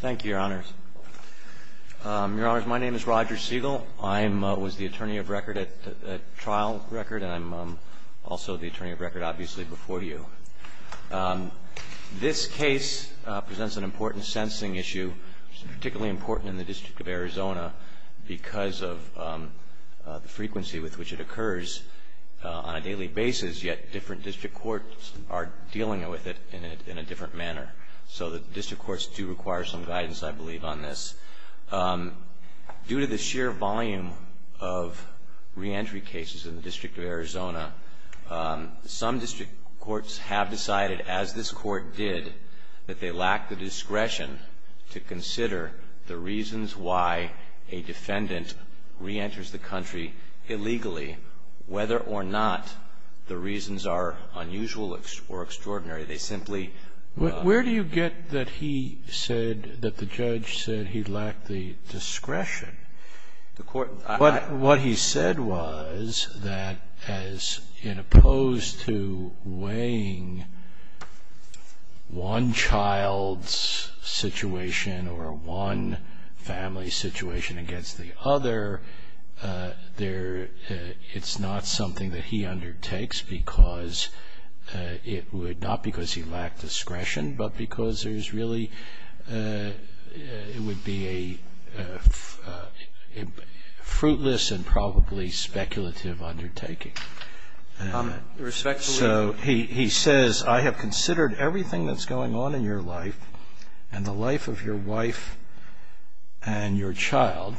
Thank you, Your Honors. Your Honors, my name is Roger Segal. I was the attorney of record at trial record, and I'm also the attorney of record obviously before you. This case presents an important sensing issue, particularly important in the District of Arizona because of the frequency with which it occurs on a daily basis, yet different District Courts are dealing with it in a different manner. So the District Courts do require some guidance, I believe, on this. Due to the sheer volume of reentry cases in the District of Arizona, some District Courts have decided, as this Court did, that they lack the discretion to consider the reasons why a defendant reenters the country illegally, whether or not the reasons are unusual or extraordinary. Where do you get that the judge said he lacked the discretion? What he said was that as opposed to weighing one child's situation or one family's situation against the other, it's not something that he undertakes not because he lacked discretion, but because it would be a fruitless and probably speculative undertaking. So he says, I have considered everything that's going on in your life and the life of your wife and your child,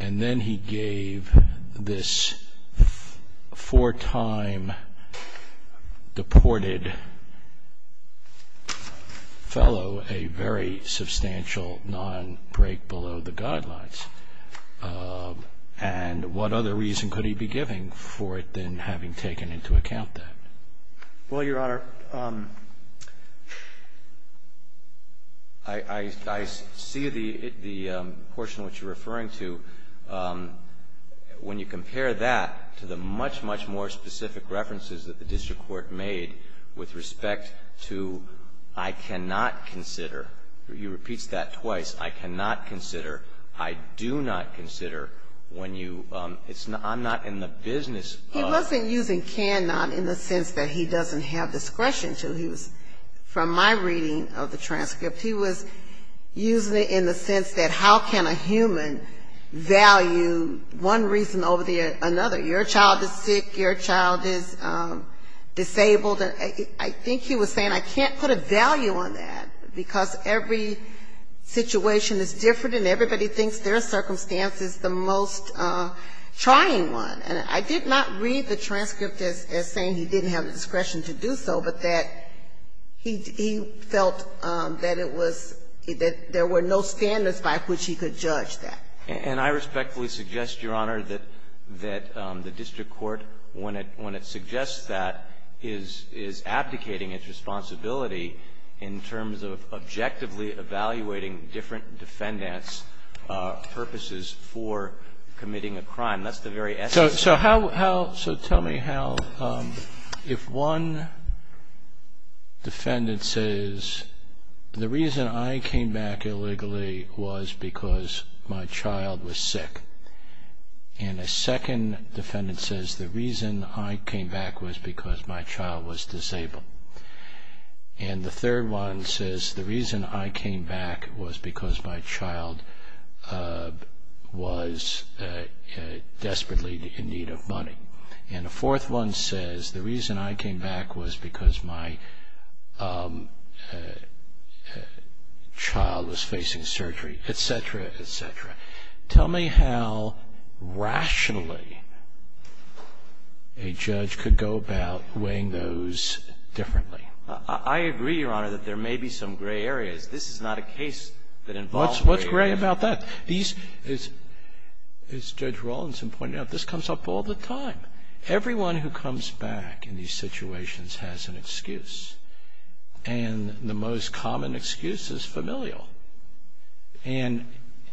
and then he gave this four-time deported fellow a very substantial non-break below the guidelines. And what other reason could he be giving for it than having taken into account that? Well, Your Honor, I see the portion which you're referring to when you compare that to the much, much more specific references that the District Court made with respect to I cannot consider, he repeats that twice, I cannot consider, I do not consider, when you, it's not, I'm not in the business of He wasn't using cannot in the sense that he doesn't have discretion to. He was, from my reading of the transcript, he was using it in the sense that how can a human value one reason over another? You know, your child is sick, your child is disabled. I think he was saying I can't put a value on that because every situation is different and everybody thinks their circumstance is the most trying one. And I did not read the transcript as saying he didn't have the discretion to do so, but that he felt that it was, that there were no standards by which he could judge that. And I respectfully suggest, Your Honor, that the District Court, when it suggests that, is abdicating its responsibility in terms of objectively evaluating different defendants' purposes for committing a crime. That's the very essence of it. So how, so tell me how, if one defendant says the reason I came back illegally was because my child was sick. And a second defendant says the reason I came back was because my child was disabled. And the third one says the reason I came back was because my child was desperately in need of money. And a fourth one says the reason I came back was because my child was facing surgery, etc., etc. Tell me how rationally a judge could go about weighing those differently. I agree, Your Honor, that there may be some gray areas. This is not a case that involves gray areas. What's gray about that? These, as Judge Rawlinson pointed out, this comes up all the time. Everyone who comes back in these situations has an excuse. And the most common excuse is familial. And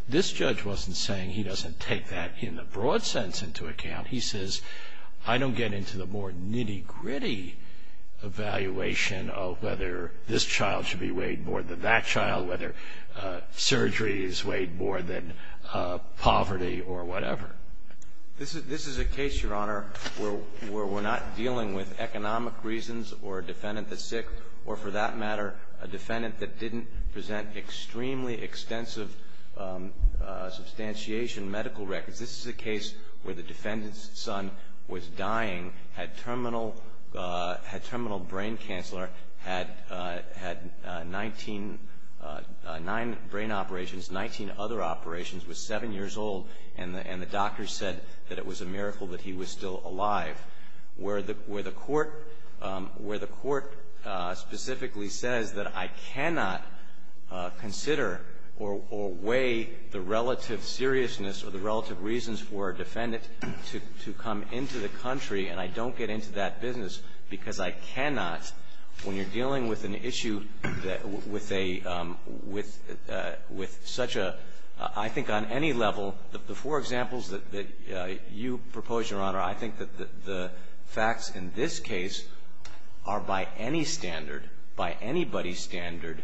this judge wasn't saying he doesn't take that in the broad sense into account. He says, I don't get into the more nitty-gritty evaluation of whether this child should be weighed more than that child, whether surgery is weighed more than poverty or whatever. This is a case, Your Honor, where we're not dealing with economic reasons or a defendant that's sick or, for that matter, a defendant that didn't present extremely extensive substantiation medical records. This is a case where the defendant's son was dying, had terminal brain cancer, had nine brain operations, 19 other operations, was seven years old, and the doctor said that it was a miracle that he was still alive. Where the court specifically says that I cannot consider or weigh the relative seriousness or the relative reasons for a defendant to come into the country and I don't get into that business because I cannot. When you're dealing with an issue with such a, I think on any level, the four examples that you propose, Your Honor, I think that the facts in this case are by any standard, by anybody's standard,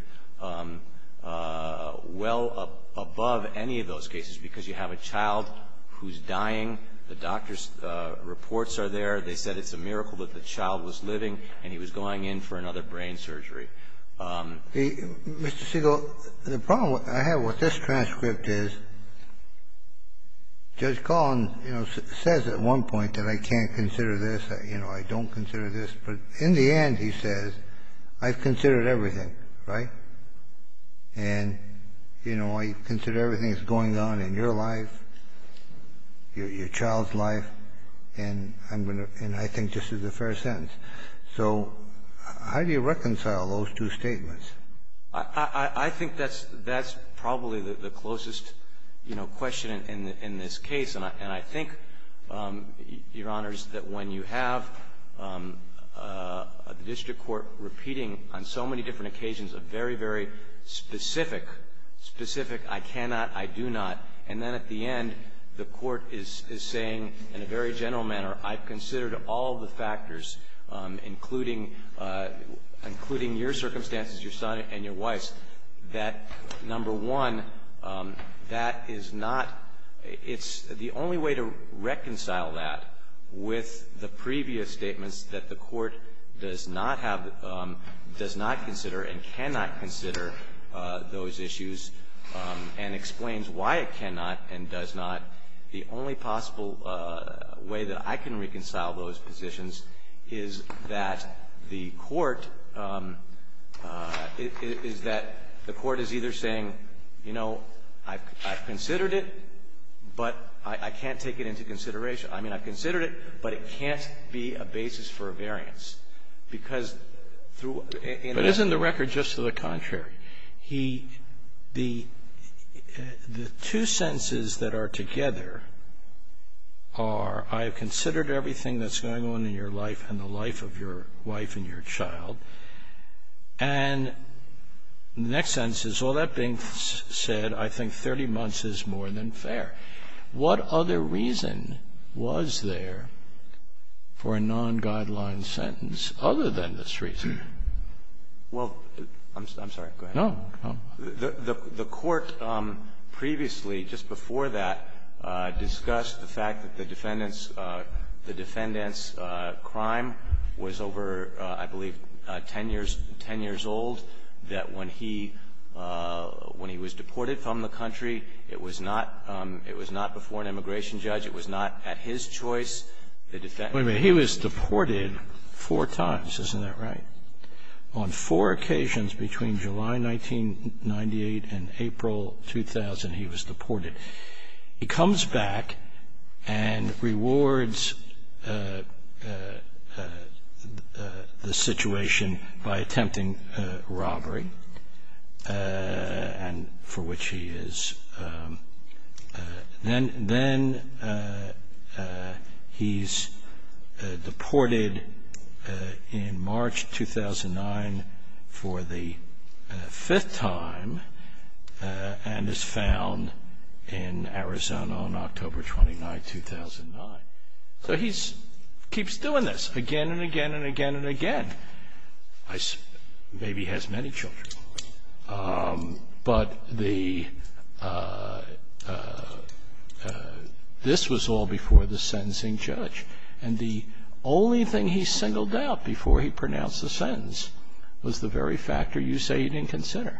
well above any of those cases, because you have a child who's dying, the doctor's reports are there, they said it's a miracle that the child was living, and he was going in for another brain surgery. Mr. Segal, the problem I have with this transcript is Judge Collins says at one point that I can't consider this, I don't consider this, but in the end, he says, I've considered everything, right? And I consider everything that's going on in your life, your child's life, and I think this is a fair sentence. So how do you reconcile those two statements? I think that's probably the closest, you know, question in this case. And I think, Your Honors, that when you have a district court repeating on so many different occasions a very, very specific, specific, I cannot, I do not, and then at the end, the court is saying in a very general manner, I've considered all the factors, including, including your circumstances, your son and your wife's, that number one, that is not, it's the only way to reconcile that with the previous statements that the court does not have, does not consider and cannot consider those issues and explains why it cannot and does not. The only possible way that I can reconcile those positions is that the court, is that the court is either saying, you know, I've considered it, but I can't take it into consideration. I mean, I've considered it, but it can't be a basis for a variance because through... But isn't the record just to the contrary? He, the, the two sentences that are together are, I have considered everything that's going on in your life and the life of your wife and your child. And the next sentence is, all that being said, I think 30 months is more than fair. What other reason was there for a non-guideline sentence other than this reason? Well, I'm sorry, go ahead. No, no. The court previously, just before that, discussed the fact that the defendant's crime was over, I believe, 10 years, 10 years old, that when he, when he was deported from the country, it was not, it was not before an immigration judge. It was not at his choice. The defendant... Wait a minute. He was deported four times. Isn't that right? He comes back and rewards the situation by attempting robbery, and for which he is... Then he's deported in March 2009 for the fifth time and is found in Arizona on October 29, 2009. So he keeps doing this again and again and again and again. Maybe he has many children. But the, this was all before the sentencing judge. And the only thing he singled out before he pronounced the sentence was the very factor you say he didn't consider.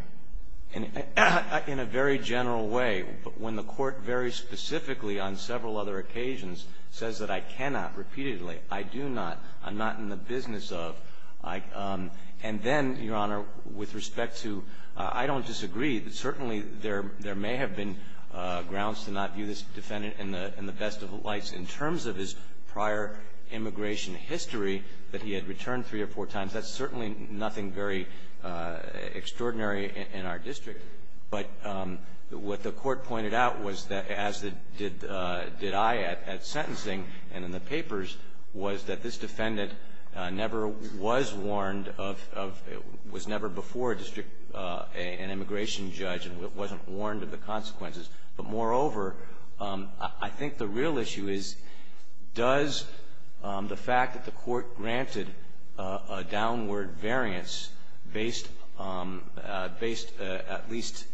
In a very general way, when the court very specifically on several other occasions says that I cannot repeatedly, I do not, I'm not in the business of, and then, Your Honor, with respect to, I don't disagree. Certainly, there may have been grounds to not view this defendant in the best of lights. In terms of his prior immigration history, that he had returned three or four times, that's certainly nothing very extraordinary in our district. But what the court pointed out was that, as did I at sentencing and in the papers, was that this defendant never was warned of, was never before an immigration judge and wasn't warned of the consequences. But moreover, I think the real issue is, does the fact that the court granted a downward variance based at least,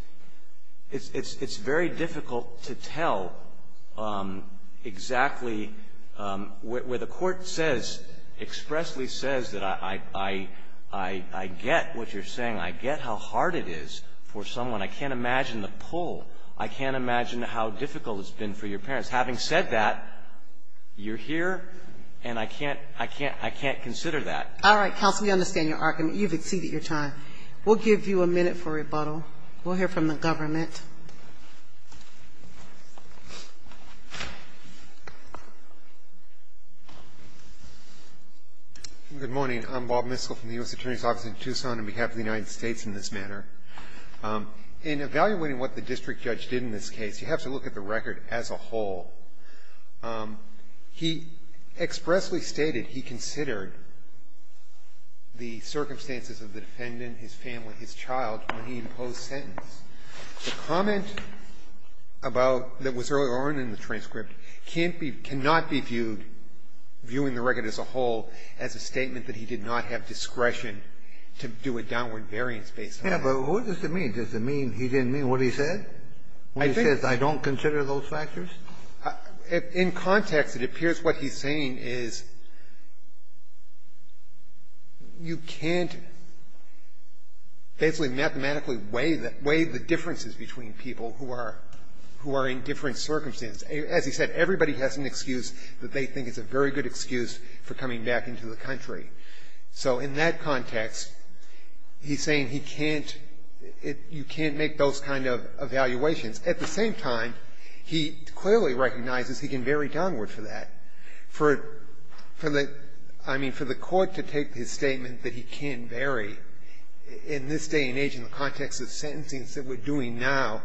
it's very difficult to tell exactly where the court says, expressly says that I get what you're saying. I get how hard it is for someone. I can't imagine the pull. I can't imagine how difficult it's been for your parents. Having said that, you're here, and I can't consider that. All right, counsel, we understand your argument. You've exceeded your time. We'll give you a minute for rebuttal. We'll hear from the government. Good morning. I'm Bob Miskell from the U.S. Attorney's Office in Tucson on behalf of the United States in this matter. In evaluating what the district judge did in this case, you have to look at the record as a whole. He expressly stated he considered the circumstances of the defendant, his family, his child, when he imposed sentence. The comment about that was earlier on in the transcript can't be, cannot be viewed, viewing the record as a whole, as a statement that he did not have discretion to do a downward variance based on that. Yeah, but what does it mean? Does it mean he didn't mean what he said? I think he said, I don't consider those factors. In context, it appears what he's saying is you can't basically mathematically weigh the differences between people who are in different circumstances. As he said, everybody has an excuse that they think is a very good excuse for coming back into the country. So in that context, he's saying he can't, you can't make those kind of evaluations. At the same time, he clearly recognizes he can vary downward for that. For the, I mean, for the court to take his statement that he can vary in this day and age in the context of sentencing that we're doing now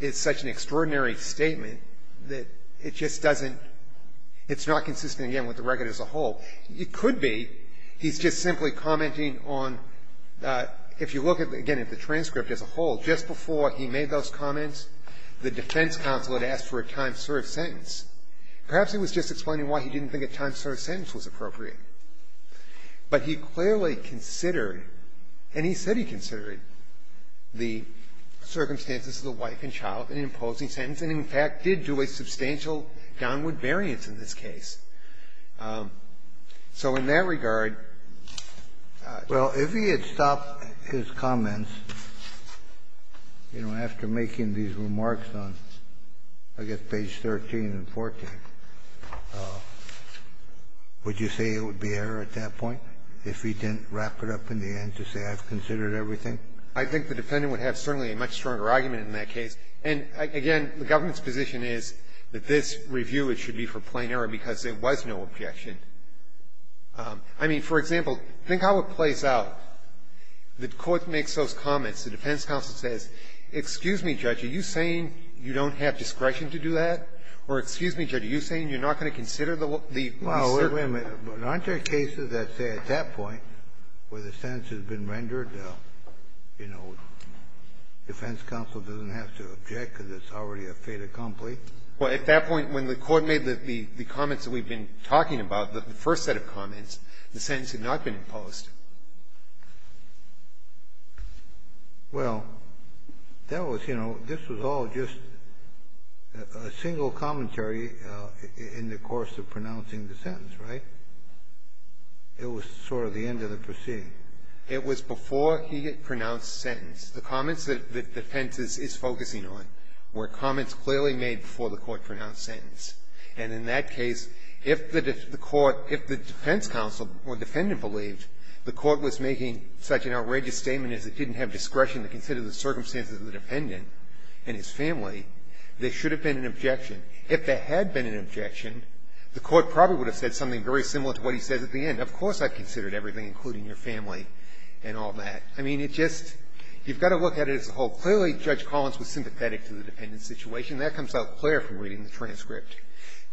is such an extraordinary statement that it just doesn't, it's not consistent again with the record as a whole. It could be he's just simply commenting on, if you look again at the transcript as a whole, just before he made those comments, the defense counsel had asked for a time-served sentence. Perhaps he was just explaining why he didn't think a time-served sentence was appropriate. But he clearly considered, and he said he considered the circumstances of the wife and child in an imposing sentence and, in fact, did do a substantial downward variance in this case. So in that regard ---- Kennedy, if he had stopped his comments, you know, after making these remarks on, I guess, page 13 and 14, would you say it would be error at that point if he didn't wrap it up in the end to say I've considered everything? I think the defendant would have certainly a much stronger argument in that case. And, again, the government's position is that this review, it should be for plain error because there was no objection. I mean, for example, think how it plays out. The court makes those comments. The defense counsel says, excuse me, Judge, are you saying you don't have discretion to do that? Or, excuse me, Judge, are you saying you're not going to consider the ---- Well, wait a minute. But aren't there cases that say at that point where the sentence has been rendered, you know, defense counsel doesn't have to object because it's already a fait accompli? Well, at that point, when the court made the comments that we've been talking about, the first set of comments, the sentence had not been imposed. Well, that was, you know, this was all just a single commentary in the course of pronouncing the sentence, right? It was sort of the end of the proceeding. It was before he had pronounced the sentence. The comments that the defense is focusing on were comments clearly made before the court pronounced the sentence. And in that case, if the defense counsel or defendant believed the court was making such an outrageous statement as it didn't have discretion to consider the circumstances of the defendant and his family, there should have been an objection. If there had been an objection, the court probably would have said something very similar to what he says at the end. Of course I considered everything, including your family and all that. I mean, it just you've got to look at it as a whole. Clearly, Judge Collins was sympathetic to the defendant's situation. That comes out clear from reading the transcript.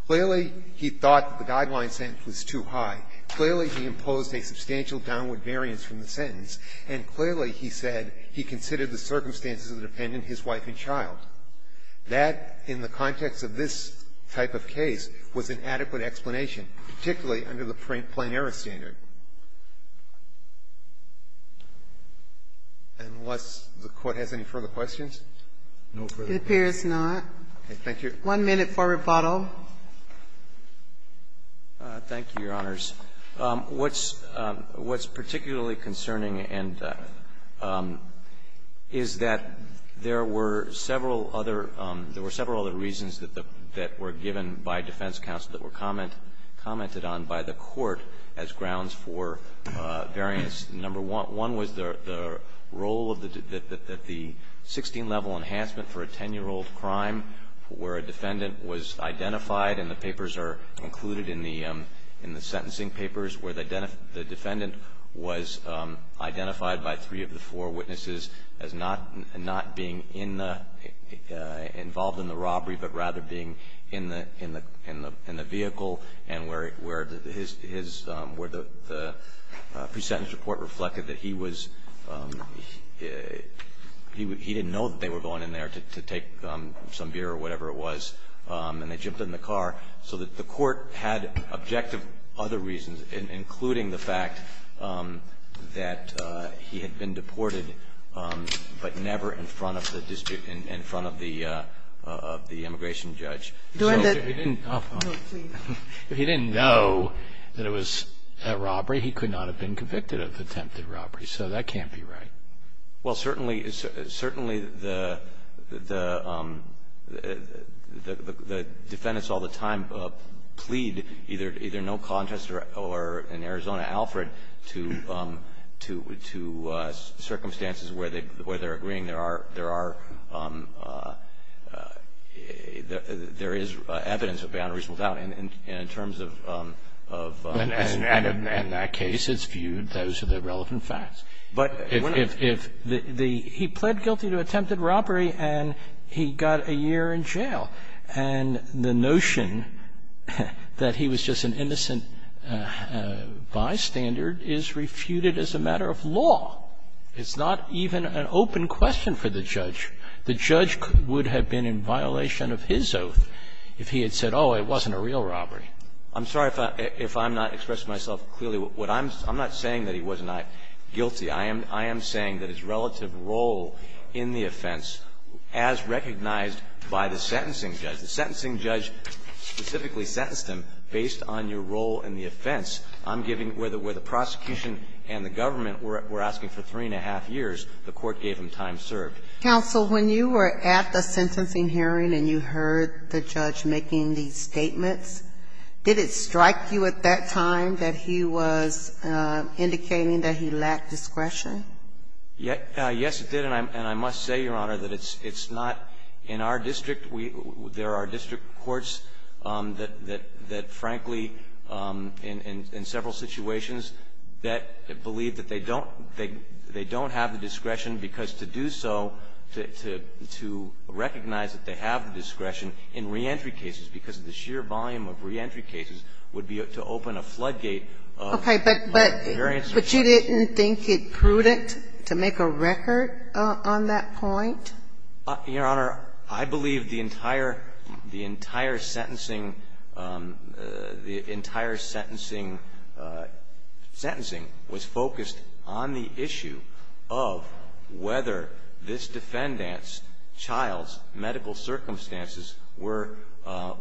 Clearly, he thought the guideline sentence was too high. Clearly, he imposed a substantial downward variance from the sentence. And clearly, he said he considered the circumstances of the defendant, his wife and child. That, in the context of this type of case, was an adequate explanation, particularly under the Plenary standard. Thank you. Unless the Court has any further questions? No further questions. It appears not. Okay. Thank you. One minute for rebuttal. Thank you, Your Honors. What's particularly concerning is that there were several other reasons that were given by defense counsel that were commented on by the Court as grounds for variance. Number one was the role of the 16-level enhancement for a 10-year-old crime where a defendant was identified, and the papers are included in the sentencing papers, where the defendant was identified by three of the four witnesses as not being in the, involved in the robbery, but rather being in the vehicle, and where his, where the pre-sentence report reflected that he was, he didn't know that they were going in there to take some beer or whatever it was, and they jumped in the car. So that the Court had objective other reasons, including the fact that he had been in front of the immigration judge. If he didn't know that it was a robbery, he could not have been convicted of attempted robbery, so that can't be right. Well, certainly the defendants all the time plead either no contest or, in Arizona, Alfred, to circumstances where they're agreeing there are, there is evidence of beyond reasonable doubt in terms of. And in that case, it's viewed, those are the relevant facts. But if the, he pled guilty to attempted robbery, and he got a year in jail, and the is refuted as a matter of law. It's not even an open question for the judge. The judge would have been in violation of his oath if he had said, oh, it wasn't a real robbery. I'm sorry if I, if I'm not expressing myself clearly. What I'm, I'm not saying that he was not guilty. I am, I am saying that his relative role in the offense, as recognized by the sentencing judge, the sentencing judge specifically sentenced him based on your role in the offense. I'm giving, where the prosecution and the government were asking for three and a half years, the court gave him time served. Counsel, when you were at the sentencing hearing and you heard the judge making these statements, did it strike you at that time that he was indicating that he lacked discretion? Yes, it did. And I must say, Your Honor, that it's not in our district. We, there are district courts that, that frankly, in several situations, that believe that they don't, they don't have the discretion, because to do so, to recognize that they have the discretion in reentry cases, because of the sheer volume of reentry cases, would be to open a floodgate. Okay. But you didn't think it prudent to make a record on that point? Your Honor, I believe the entire, the entire sentencing, the entire sentencing was focused on the issue of whether this defendant's child's medical circumstances were,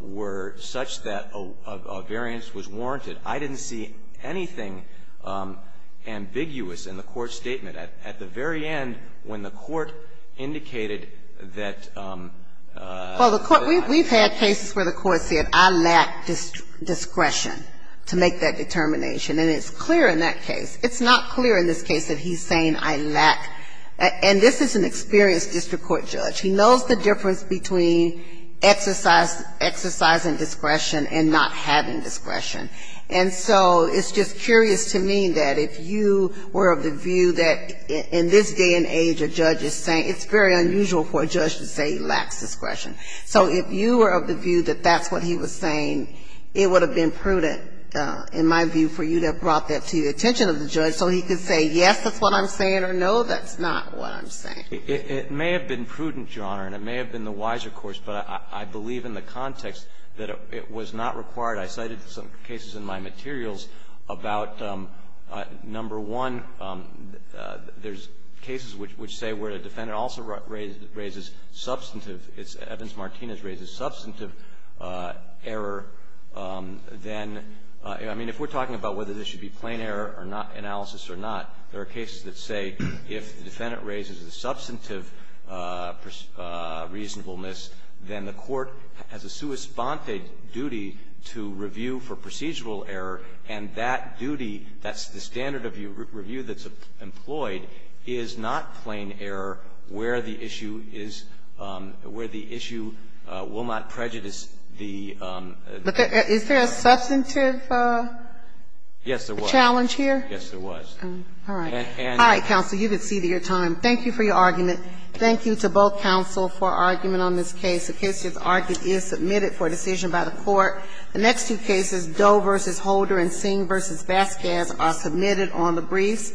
were such that a variance was warranted. I didn't see anything ambiguous in the court's statement. At the very end, when the court indicated that... Well, the court, we've had cases where the court said, I lack discretion to make that determination. And it's clear in that case. It's not clear in this case that he's saying, I lack. And this is an experienced district court judge. He knows the difference between exercise, exercising discretion and not having discretion. And so it's just curious to me that if you were of the view that in this day and age a judge is saying, it's very unusual for a judge to say he lacks discretion. So if you were of the view that that's what he was saying, it would have been prudent, in my view, for you to have brought that to the attention of the judge so he could say, yes, that's what I'm saying, or no, that's not what I'm saying. It may have been prudent, Your Honor, and it may have been the wiser course, but I believe in the context that it was not required. I cited some cases in my materials about, number one, there's cases which say where a defendant also raises substantive, Evans-Martinez raises substantive error, then, I mean, if we're talking about whether this should be plain error or not, analysis or not, there are cases that say if the defendant raises a substantive reasonableness, then the court has a sui sponte duty to review for procedural error, and that duty, that's the standard of review that's employed, is not plain error where the issue is – where the issue will not prejudice the... But is there a substantive... Yes, there was. ...challenge here? Yes, there was. All right. All right, counsel. You've exceeded your time. Thank you for your argument. Thank you to both counsel for argument on this case. The case is submitted for decision by the court. The next two cases, Doe v. Holder and Singh v. Vasquez, are submitted on the briefs.